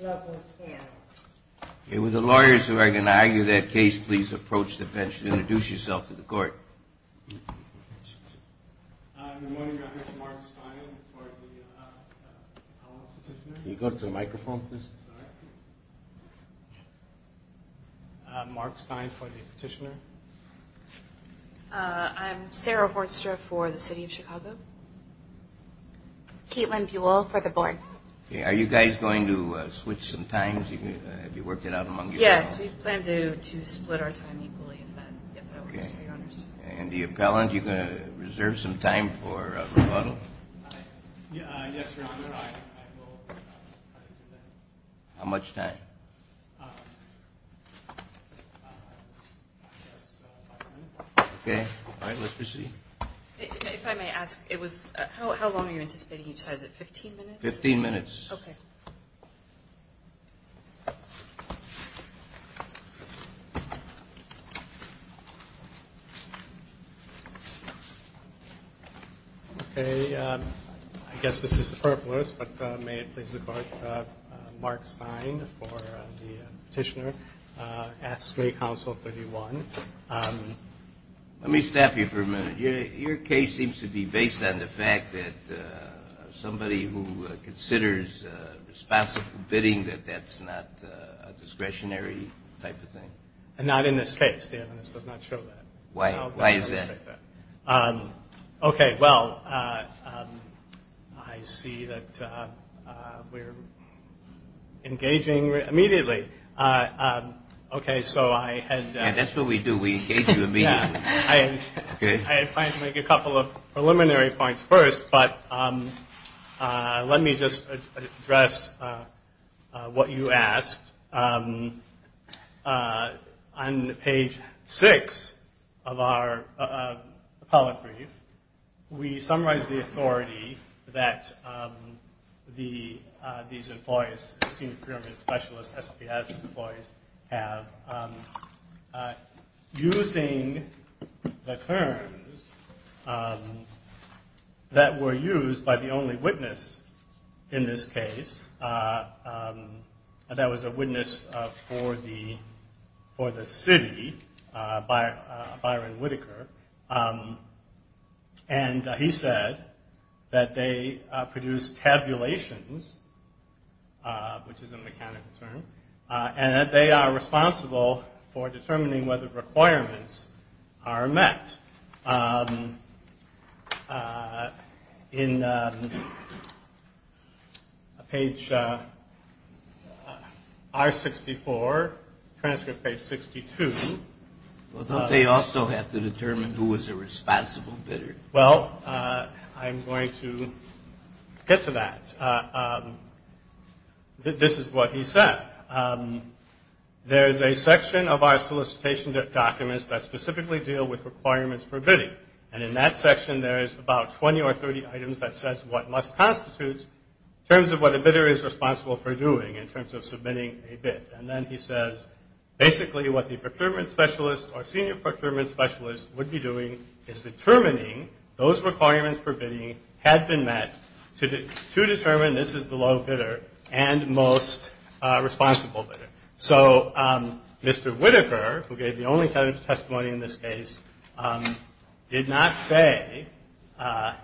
Local Panel. With the lawyers who are going to argue that case, please approach the bench to introduce yourself to the court. Good morning, I'm Mark Steiner, I'm the appellant, can you go up to the microphone please? Mark Stein for the petitioner. I'm Sarah Horstra for the City of Chicago. Caitlin Beulah for the board. Are you guys going to switch some times, have you worked it out among yourselves? Yes, we plan to split our time equally. And the appellant, are you going to reserve some time for rebuttal? How much time? Okay, let's proceed. If I may ask, how long are you anticipating each side, is it 15 minutes? 15 minutes. Okay. Okay, I guess this is superfluous, but may it please the Court, Mark Stein for the petitioner, ask State Council 31. Let me stop you for a minute. Your case seems to be based on the fact that somebody who considers responsible bidding, that that's not a discretionary type of thing. And not in this case, the evidence does not show that. Why is that? Okay, well, I see that we're engaging immediately. Okay, so I had to make a couple of preliminary points first, but let me just address what you asked. On page 6 of our appellate brief, we summarize the authority that these employees, SPS employees have, using the terms that were used by the only witness in this case. That was a witness for the city, Byron Whittaker. And he said that they produce tabulations, which is a mechanical term, and that they are responsible for determining whether requirements are met. In page R64, transcript page 62. Well, don't they also have to determine who is a responsible bidder? or senior procurement specialist would be doing is determining those requirements for bidding had been met to determine this is the low bidder and most responsible bidder. So Mr. Whittaker, who gave the only testimony in this case, did not say, a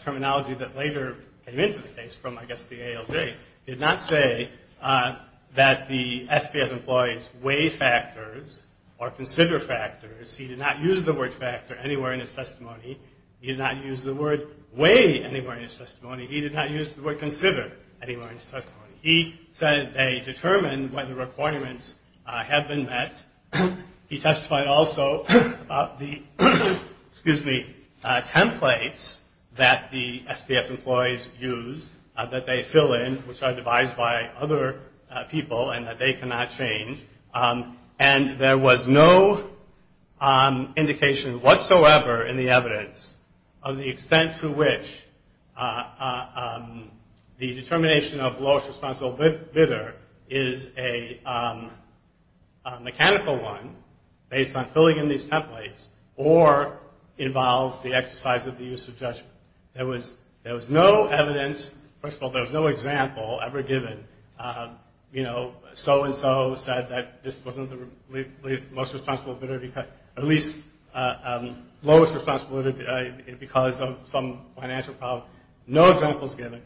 terminology that later came into the case from, I guess, the ALJ, did not say that the SPS employees weigh factors or consider factors. He did not use the word factor anywhere in his testimony. He did not use the word weigh anywhere in his testimony. He did not use the word consider anywhere in his testimony. He said they determined whether requirements had been met. He testified also about the, excuse me, templates that the SPS employees use, that they fill in, which are devised by other people and that they cannot change. And there was no indication whatsoever in the evidence of the extent to which the determination of lowest responsible bidder is a mechanical one based on filling in these templates or involves the exercise of the use of judgment. There was no evidence, first of all, there was no example ever given, you know, so-and-so said that this wasn't the most responsible bidder, or at least lowest responsible bidder because of some financial problem. No examples given.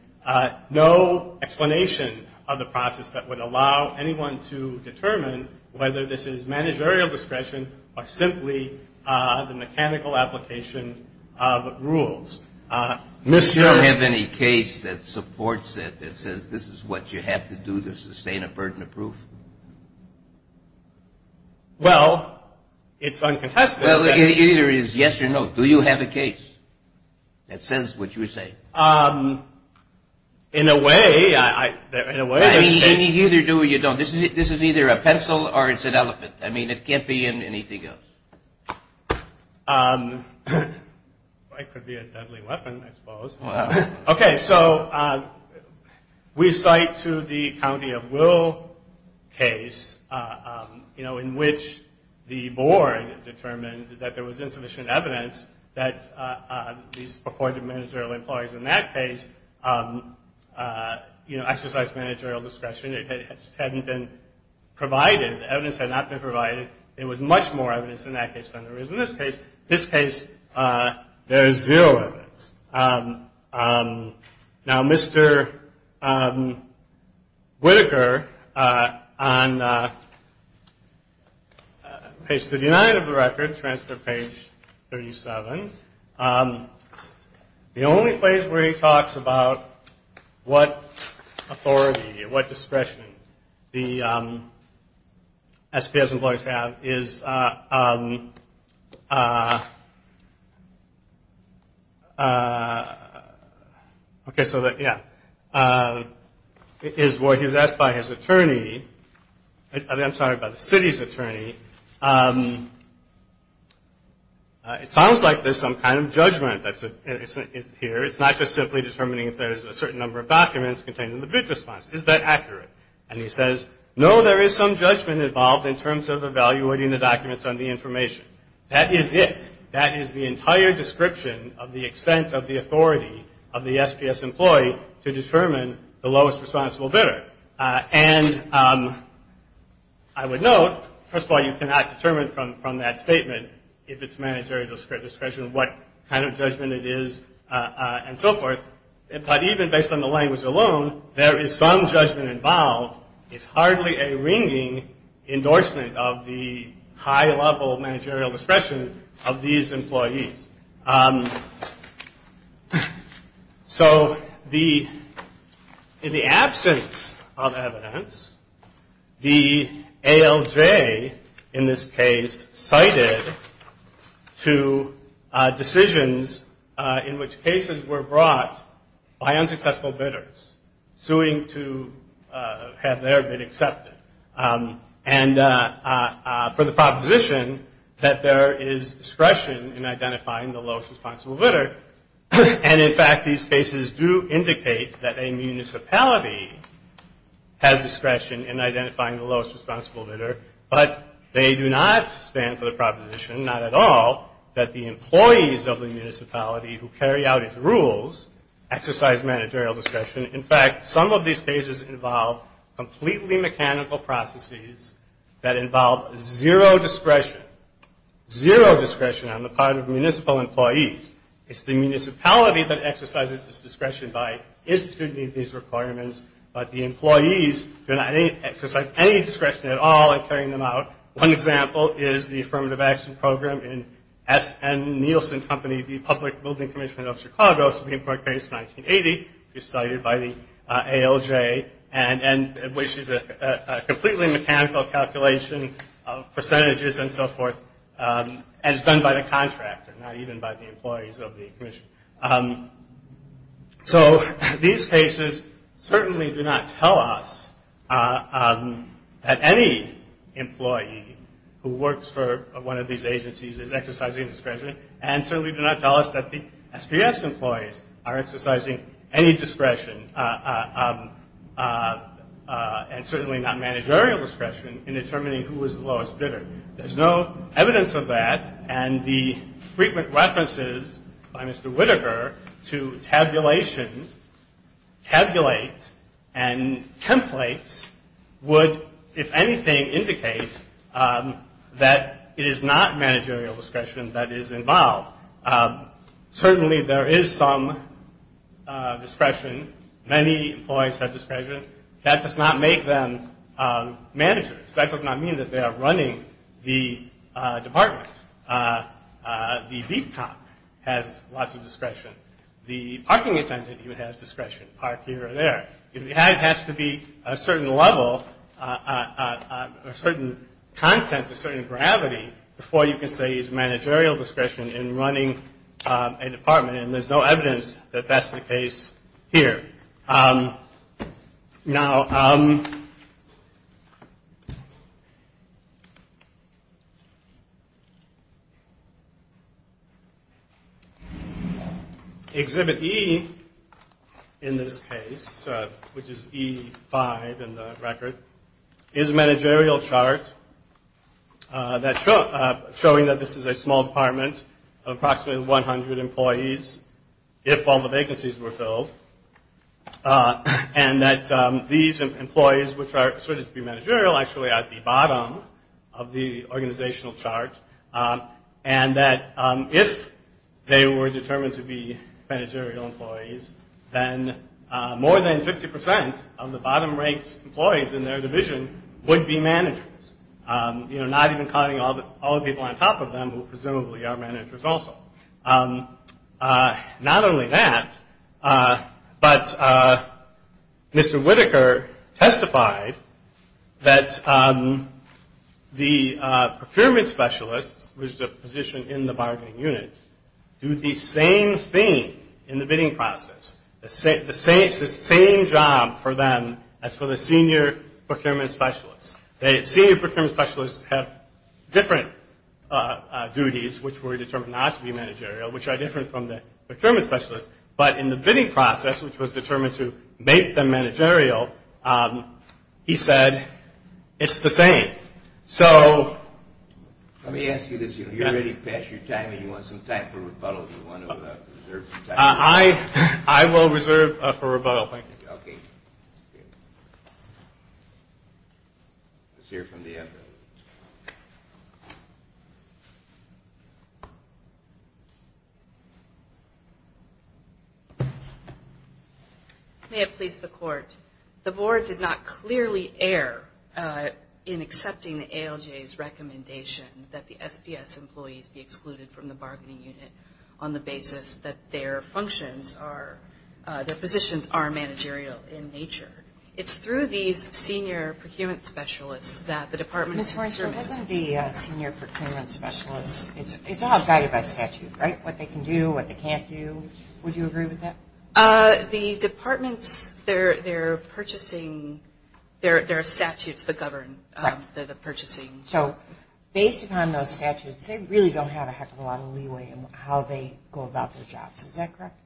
No explanation of the process that would allow anyone to determine whether this is managerial discretion or simply the mechanical application of rules. Do you have any case that supports that, that says this is what you have to do to sustain a burden of proof? Well, it's uncontested. Well, it either is yes or no. Do you have a case that says what you say? In a way, in a way. I mean, you either do or you don't. This is either a pencil or it's an elephant. I mean, it can't be anything else. It could be a deadly weapon, I suppose. Okay, so we cite to the County of Will case, you know, in which the board determined that there was insufficient evidence that these appointed managerial employees in that case, you know, exercised managerial discretion. It just hadn't been provided. The evidence had not been provided. There was much more evidence in that case than there is in this case. In this case, there is zero evidence. Now, Mr. Whitaker, on page 39 of the record, transfer page 37, the only place where he talks about what authority or what discretion the SPS employees have is Okay, so that, yeah, is where he was asked by his attorney, I'm sorry, by the city's attorney, it sounds like there's some kind of judgment that's here. It's not just simply determining if there's a certain number of documents contained in the bid response. Is that accurate? And he says, no, there is some judgment involved in terms of evaluating the documents on the information. That is it. That is the entire description of the extent of the authority of the SPS employee to determine the lowest responsible bidder. And I would note, first of all, you cannot determine from that statement if it's managerial discretion, what kind of judgment it is, and so forth. But even based on the language alone, there is some judgment involved. It's hardly a ringing endorsement of the high-level managerial discretion of these employees. So the, in the absence of evidence, the ALJ, in this case, cited two decisions in which cases were brought by unsuccessful bidders, suing to have their bid accepted, and for the proposition that there is discretion in identifying successful bidders. And in fact, these cases do indicate that a municipality has discretion in identifying the lowest responsible bidder, but they do not stand for the proposition, not at all, that the employees of the municipality who carry out its rules exercise managerial discretion. In fact, some of these cases involve completely mechanical processes that involve zero discretion, zero discretion on the part of municipal employees. It's the municipality that exercises its discretion by instituting these requirements, but the employees do not exercise any discretion at all in carrying them out. One example is the Affirmative Action Program in S. N. Nielsen Company, the Public Building Commission of Chicago, Supreme Court case 1980, which is cited by the ALJ, and which is a completely mechanical calculation of percentages and so forth, and it's done by the contractor, not even by the employees of the commission. So these cases certainly do not tell us that any employee who works for one of these agencies is exercising discretion, and certainly do not tell us that the SPS employees are exercising any discretion, and certainly not managerial discretion, in determining who is the lowest bidder. There's no evidence of that, and the frequent references by Mr. Whitaker to tabulation, tabulate, and templates would, if anything, indicate that it is not managerial discretion that is involved. Certainly, there is some discretion. Many employees have discretion. That does not make them managers. That does not mean that they are running the department. The beat cop has lots of discretion. The parking attendant even has discretion, park here or there. It has to be a certain level, a certain content, a certain gravity before you can say it's managerial discretion in running a department, and there's no evidence that that's the case here. Now, Exhibit E in this case, which is E5 in the record, is a managerial chart showing that this is a small department of approximately 100 employees, if all the vacancies were filled. And that these employees, which are asserted to be managerial, actually are at the bottom of the organizational chart, and that if they were determined to be managerial employees, then more than 50% of the bottom-ranked employees in their division would be managers, you know, not even counting all the people on top of them, who presumably are managers also. Not only that, but Mr. Whitaker testified that the procurement specialists, which is a position in the bargaining unit, do the same thing in the bidding process. It's the same job for them as for the senior procurement specialists. The senior procurement specialists have different duties, which were determined not to be managerial, which are different from the procurement specialists, but in the bidding process, which was determined to make them managerial, he said it's the same. So... Let me ask you this. If you're ready to pass your time and you want some time for rebuttal, do you want to reserve some time? I will reserve for rebuttal, thank you. Okay. Let's hear from the evidence. May it please the Court. The Board did not clearly err in accepting the ALJ's recommendation that the SPS employees be excluded from the bargaining unit on the basis that their functions are, their positions are managerial in nature. It's through these senior procurement specialists that the department... Ms. Hornsby, doesn't the senior procurement specialist, it's all guided by statute, right? What they can do, what they can't do. Would you agree with that? The departments, they're purchasing, there are statutes that govern the purchasing. Based upon those statutes, they really don't have a heck of a lot of leeway in how they go about their jobs. Is that correct?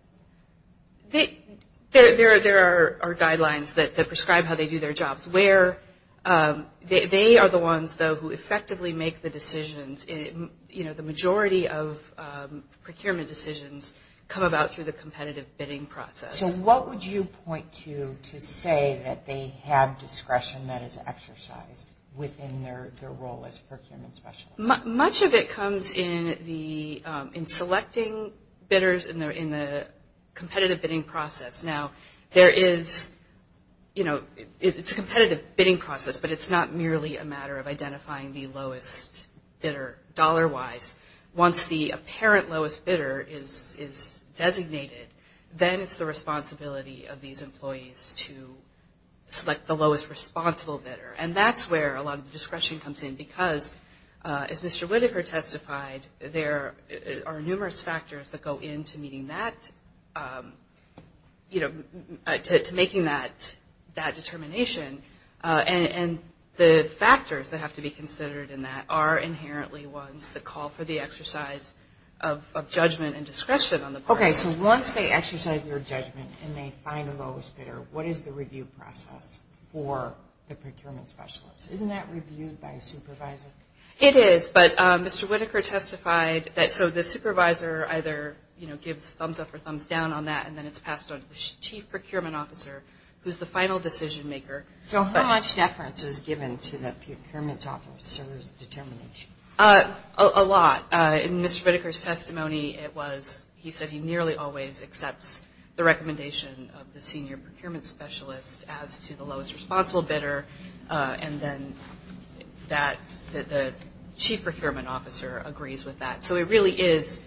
There are guidelines that prescribe how they do their jobs. They are the ones, though, who effectively make the decisions. The majority of procurement decisions come about through the competitive bidding process. So what would you point to to say that they have discretion that is exercised within their role as procurement specialists? Much of it comes in selecting bidders in the competitive bidding process. Now, there is, you know, it's a competitive bidding process, but it's not merely a matter of identifying the lowest bidder dollar-wise. Once the apparent lowest bidder is designated, then it's the responsibility of these employees to select the lowest responsible bidder. And that's where a lot of the discretion comes in because, as Mr. Whitaker testified, there are numerous factors that go into meeting that, you know, to making that determination. And the factors that have to be considered in that are inherently ones that call for the exercise of judgment and discretion on the part. Okay, so once they exercise their judgment and they find the lowest bidder, what is the review process for the procurement specialist? Isn't that reviewed by a supervisor? It is, but Mr. Whitaker testified that so the supervisor either, you know, gives thumbs up or thumbs down on that, and then it's passed on to the chief procurement officer, who's the final decision maker. So how much deference is given to the procurement officer's determination? A lot. In Mr. Whitaker's testimony, it was he said he nearly always accepts the recommendation of the senior procurement specialist as to the lowest responsible bidder, and then that the chief procurement officer agrees with that. So it really is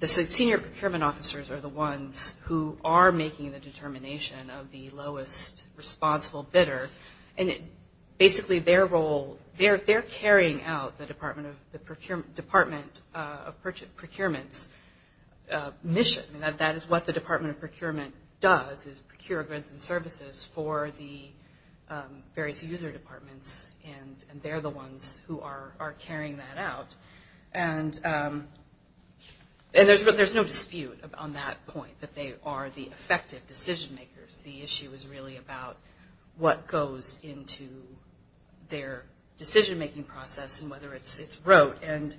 the senior procurement officers are the ones who are making the determination of the lowest responsible bidder, and basically their role, they're carrying out the Department of Procurement's mission. That is what the Department of Procurement does is procure goods and services for the various user departments, and they're the ones who are carrying that out. And there's no dispute on that point, that they are the effective decision makers. The issue is really about what goes into their decision-making process and whether it's rote. And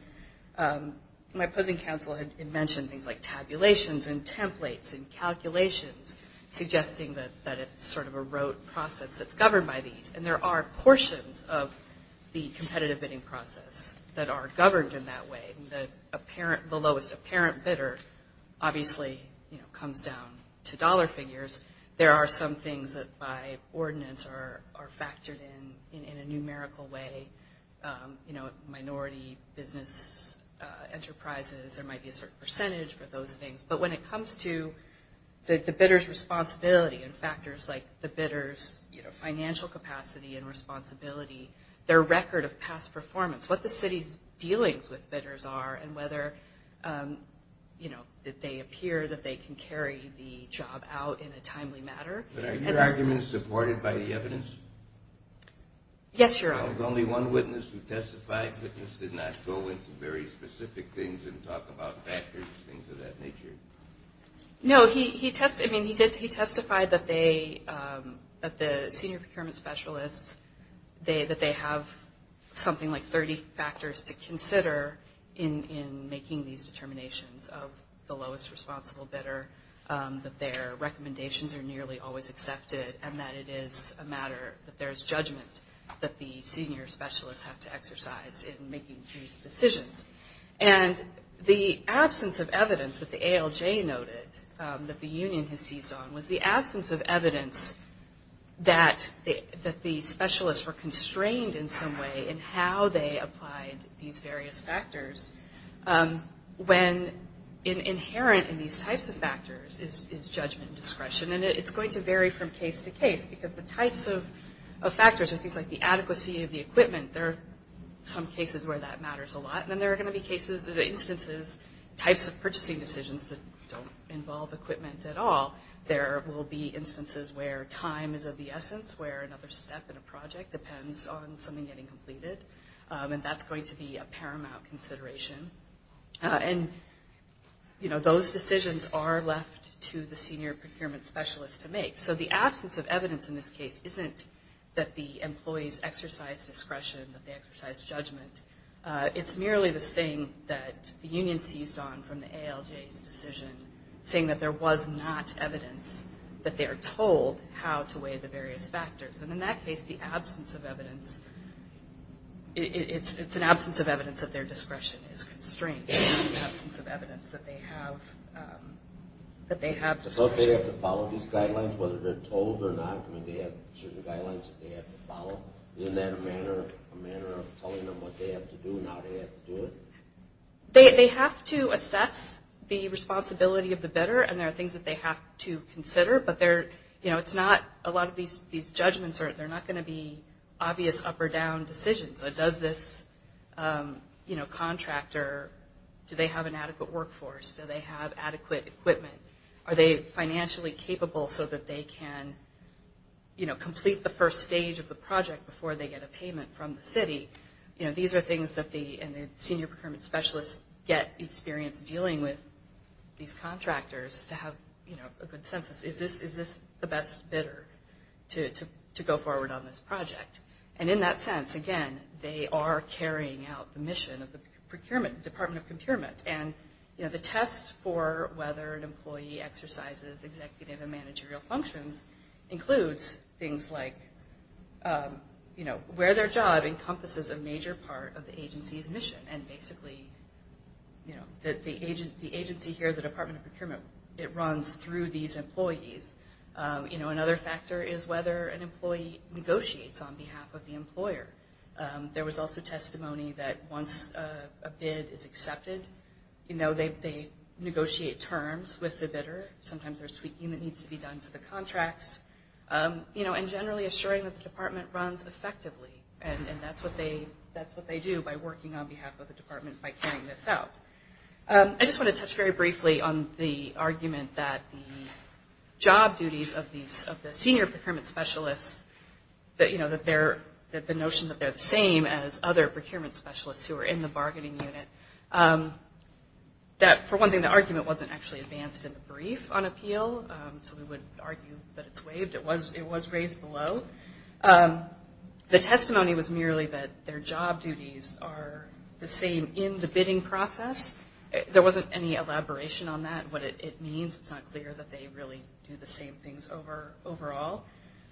my opposing counsel had mentioned things like tabulations and templates and calculations, suggesting that it's sort of a rote process that's governed by these, and there are portions of the competitive bidding process that are governed in that way. The lowest apparent bidder obviously comes down to dollar figures. There are some things that by ordinance are factored in in a numerical way, you know, minority business enterprises. There might be a certain percentage for those things. But when it comes to the bidder's responsibility and factors like the bidder's financial capacity and responsibility, their record of past performance, what the city's dealings with bidders are, and whether, you know, that they appear that they can carry the job out in a timely matter. But are your arguments supported by the evidence? Yes, Your Honor. There was only one witness who testified. The witness did not go into very specific things and talk about factors, things of that nature. No, he testified that the senior procurement specialists, that they have something like 30 factors to consider in making these determinations of the lowest responsible bidder, that their recommendations are nearly always accepted, and that it is a matter that there is judgment that the senior specialists have to exercise in making these decisions. And the absence of evidence that the ALJ noted, that the union has seized on, was the absence of evidence that the specialists were constrained in some way in how they applied these various factors, when inherent in these types of factors is judgment and discretion. And it's going to vary from case to case, because the types of factors are things like the adequacy of the equipment. There are some cases where that matters a lot, and then there are going to be instances, types of purchasing decisions that don't involve equipment at all. There will be instances where time is of the essence, where another step in a project depends on something getting completed, and that's going to be a paramount consideration. And, you know, those decisions are left to the senior procurement specialist to make. So the absence of evidence in this case isn't that the employees exercise discretion, that they exercise judgment. It's merely this thing that the union seized on from the ALJ's decision, saying that there was not evidence that they are told how to weigh the various factors. And in that case, the absence of evidence, it's an absence of evidence that their discretion is constrained. It's the absence of evidence that they have discretion. So they have to follow these guidelines, whether they're told or not. I mean, they have certain guidelines that they have to follow. Isn't that a manner of telling them what they have to do and how they have to do it? They have to assess the responsibility of the bidder, and there are things that they have to consider, but they're, you know, it's not, a lot of these judgments are, they're not going to be obvious up or down decisions. Does this, you know, contractor, do they have an adequate workforce? Do they have adequate equipment? Are they financially capable so that they can, you know, complete the first stage of the project before they get a payment from the city? You know, these are things that the senior procurement specialists get experience dealing with these contractors to have, you know, a good sense of, is this the best bidder to go forward on this project? And in that sense, again, they are carrying out the mission of the procurement, Department of Procurement. And, you know, the test for whether an employee exercises executive and managerial functions includes things like, you know, where their job encompasses a major part of the agency's mission. And basically, you know, the agency here, the Department of Procurement, it runs through these employees. You know, another factor is whether an employee negotiates on behalf of the employer. There was also testimony that once a bid is accepted, you know, they negotiate terms with the bidder. Sometimes there's tweaking that needs to be done to the contracts. You know, and generally assuring that the department runs effectively, and that's what they do by working on behalf of the department by carrying this out. I just want to touch very briefly on the argument that the job duties of the senior procurement specialists, you know, that the notion that they're the same as other procurement specialists who are in the bargaining unit, that for one thing, the argument wasn't actually advanced in the brief on appeal. So we would argue that it's waived. It was raised below. The testimony was merely that their job duties are the same in the bidding process. There wasn't any elaboration on that, what it means. It's not clear that they really do the same things overall.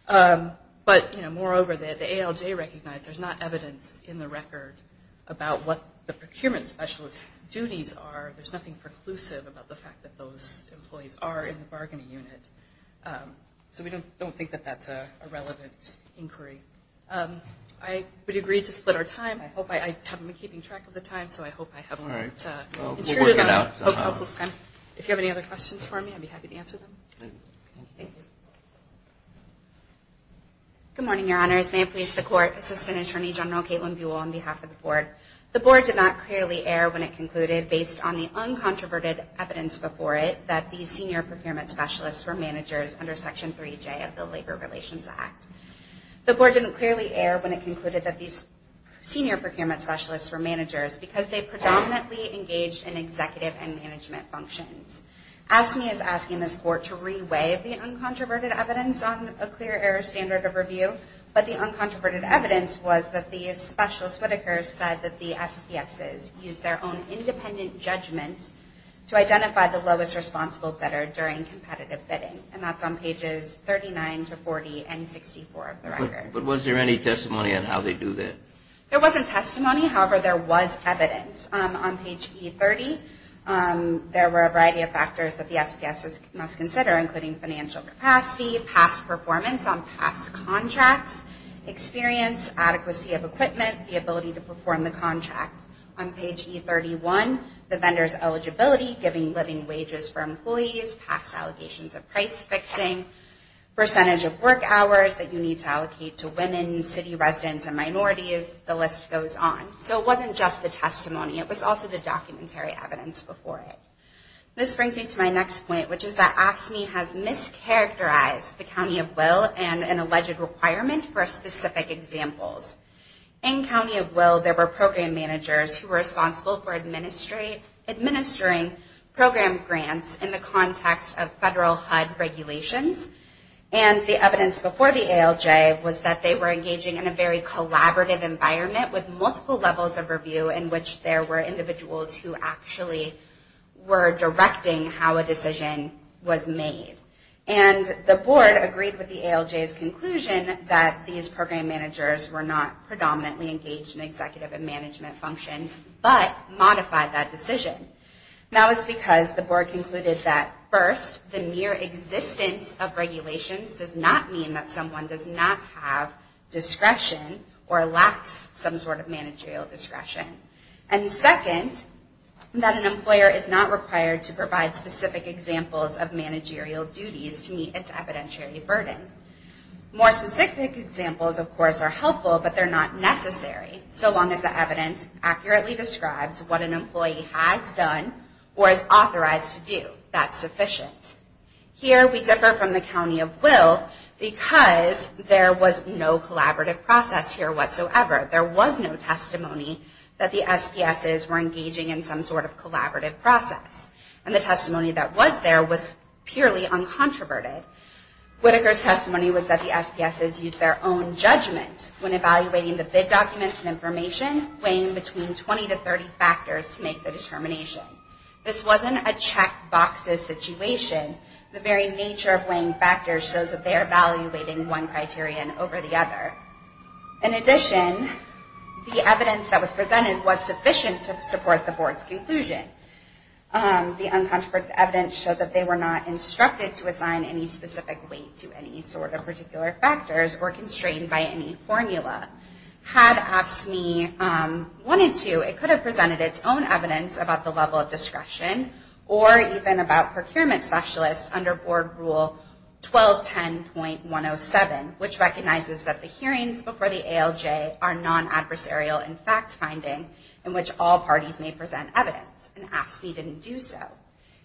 But, you know, moreover, the ALJ recognized there's not evidence in the record about what the procurement specialist's duties are. There's nothing preclusive about the fact that those employees are in the bargaining unit. So we don't think that that's a relevant inquiry. I would agree to split our time. I haven't been keeping track of the time, so I hope I haven't intruded on counsel's time. If you have any other questions for me, I'd be happy to answer them. Thank you. Good morning, Your Honors. May it please the Court. Assistant Attorney General Caitlin Buell on behalf of the Board. The Board did not clearly err when it concluded, based on the uncontroverted evidence before it, that these senior procurement specialists were managers under Section 3J of the Labor Relations Act. The Board didn't clearly err when it concluded that these senior procurement specialists were managers because they predominantly engaged in executive and management functions. AFSCME is asking this Court to re-weigh the uncontroverted evidence on a clear error standard of review, but the uncontroverted evidence was that the specialist whittakers said that the SPXs used their own independent judgment to identify the lowest responsible bidder during competitive bidding. And that's on pages 39 to 40 and 64 of the record. But was there any testimony on how they do that? There wasn't testimony. However, there was evidence. On page E30, there were a variety of factors that the SPXs must consider, including financial capacity, past performance on past contracts, experience, adequacy of equipment, the ability to perform the contract. On page E31, the vendor's eligibility, giving living wages for employees, past allegations of price fixing, percentage of work hours that you need to allocate to women, city residents, and minorities. The list goes on. So it wasn't just the testimony. It was also the documentary evidence before it. This brings me to my next point, which is that AFSCME has mischaracterized the County of Will and an alleged requirement for specific examples. In County of Will, there were program managers who were responsible for administering program grants in the context of federal HUD regulations. And the evidence before the ALJ was that they were engaging in a very collaborative environment with multiple levels of review in which there were individuals who actually were directing how a decision was made. And the board agreed with the ALJ's conclusion that these program managers were not predominantly engaged in executive and management functions, but modified that decision. That was because the board concluded that, first, the mere existence of regulations does not mean that someone does not have discretion or lacks some sort of managerial discretion. And second, that an employer is not required to provide specific examples of managerial duties to meet its evidentiary burden. More specific examples, of course, are helpful, but they're not necessary, so long as the evidence accurately describes what an employee has done or is authorized to do. That's sufficient. Here, we differ from the County of Will because there was no collaborative process here whatsoever. There was no testimony that the SPSs were engaging in some sort of collaborative process. And the testimony that was there was purely uncontroverted. Whitaker's testimony was that the SPSs used their own judgment when evaluating the bid documents and information, weighing between 20 to 30 factors to make the determination. This wasn't a checkboxes situation. The very nature of weighing factors shows that they're evaluating one criterion over the other. In addition, the evidence that was presented was sufficient to support the Board's conclusion. The uncontroverted evidence showed that they were not instructed to assign any specific weight to any sort of particular factors or constrained by any formula. Had AFSCME wanted to, it could have presented its own evidence about the level of discretion or even about procurement specialists under Board Rule 1210.107, which recognizes that the hearings before the ALJ are non-adversarial in fact finding in which all parties may present evidence. And AFSCME didn't do so.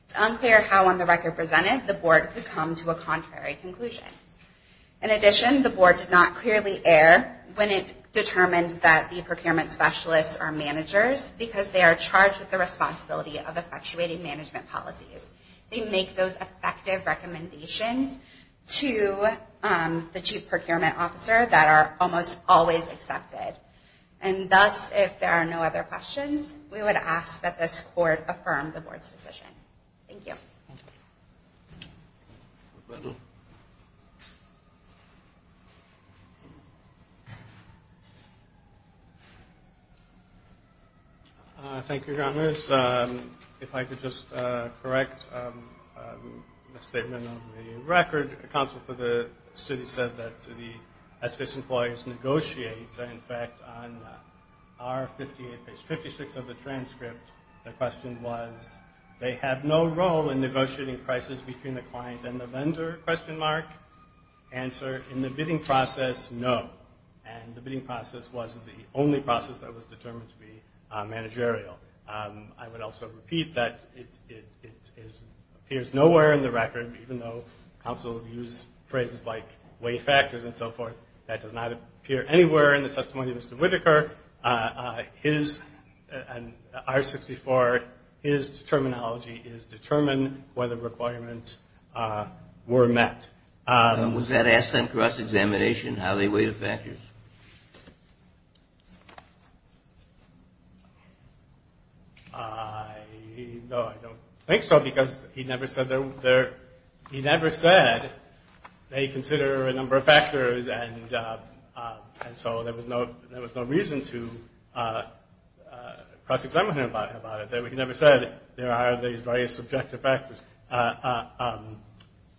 It's unclear how on the record presented the Board could come to a contrary conclusion. In addition, the Board did not clearly err when it determined that the procurement specialists are managers because they are charged with the responsibility of effectuating management policies. They make those effective recommendations to the Chief Procurement Officer that are almost always accepted. And thus, if there are no other questions, we would ask that this Court affirm the Board's decision. Thank you. Thank you. Thank you, Your Honors. If I could just correct the statement of the record, the Counsel for the City said that the SPS employees negotiate. And, in fact, on page 56 of the transcript, the question was, they have no role in negotiating prices between the client and the vendor? Answer, in the bidding process, no. And the bidding process was the only process that was determined to be managerial. I would also repeat that it appears nowhere in the record, even though counsel used phrases like weight factors and so forth, that does not appear anywhere in the testimony of Mr. Whitaker. His, in I-64, his terminology is determine whether requirements were met. Was that asked in cross-examination, how they weigh the factors? No, I don't think so, because he never said they consider a number of factors and so there was no reason to cross-examine him about it. He never said there are these various subjective factors.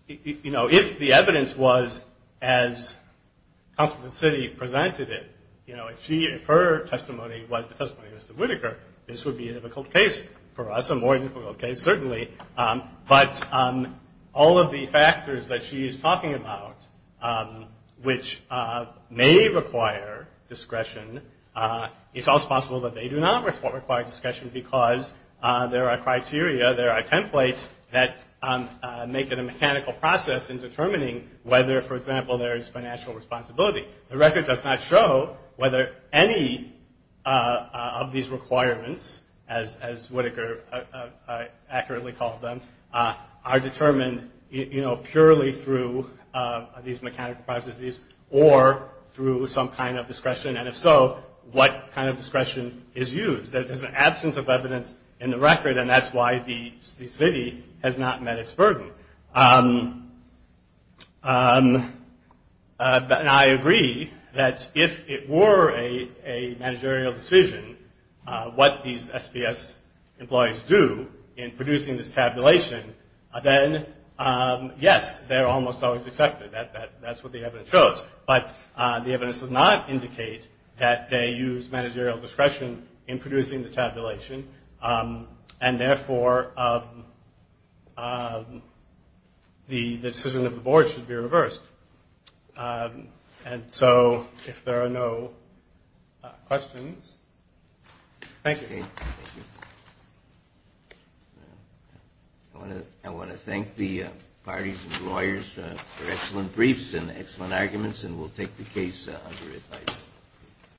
You know, if the evidence was as Counsel for the City presented it, you know, if her testimony was the testimony of Mr. Whitaker, this would be a difficult case for us, a more difficult case, certainly. But all of the factors that she is talking about, which may require discretion, it's also possible that they do not require discretion because there are criteria, there are templates that make it a mechanical process in determining whether, for example, there is financial responsibility. The record does not show whether any of these requirements, as Whitaker accurately called them, are determined, you know, purely through these mechanical processes or through some kind of discretion. And if so, what kind of discretion is used? There's an absence of evidence in the record, and that's why the city has not met its burden. And I agree that if it were a managerial decision, what these SBS employees do in producing this tabulation, then yes, they're almost always accepted. That's what the evidence shows. But the evidence does not indicate that they use managerial discretion in producing the tabulation and, therefore, the decision of the board should be reversed. And so if there are no questions, thank you. I want to thank the parties and lawyers for excellent briefs and excellent arguments, and we'll take the case under advice.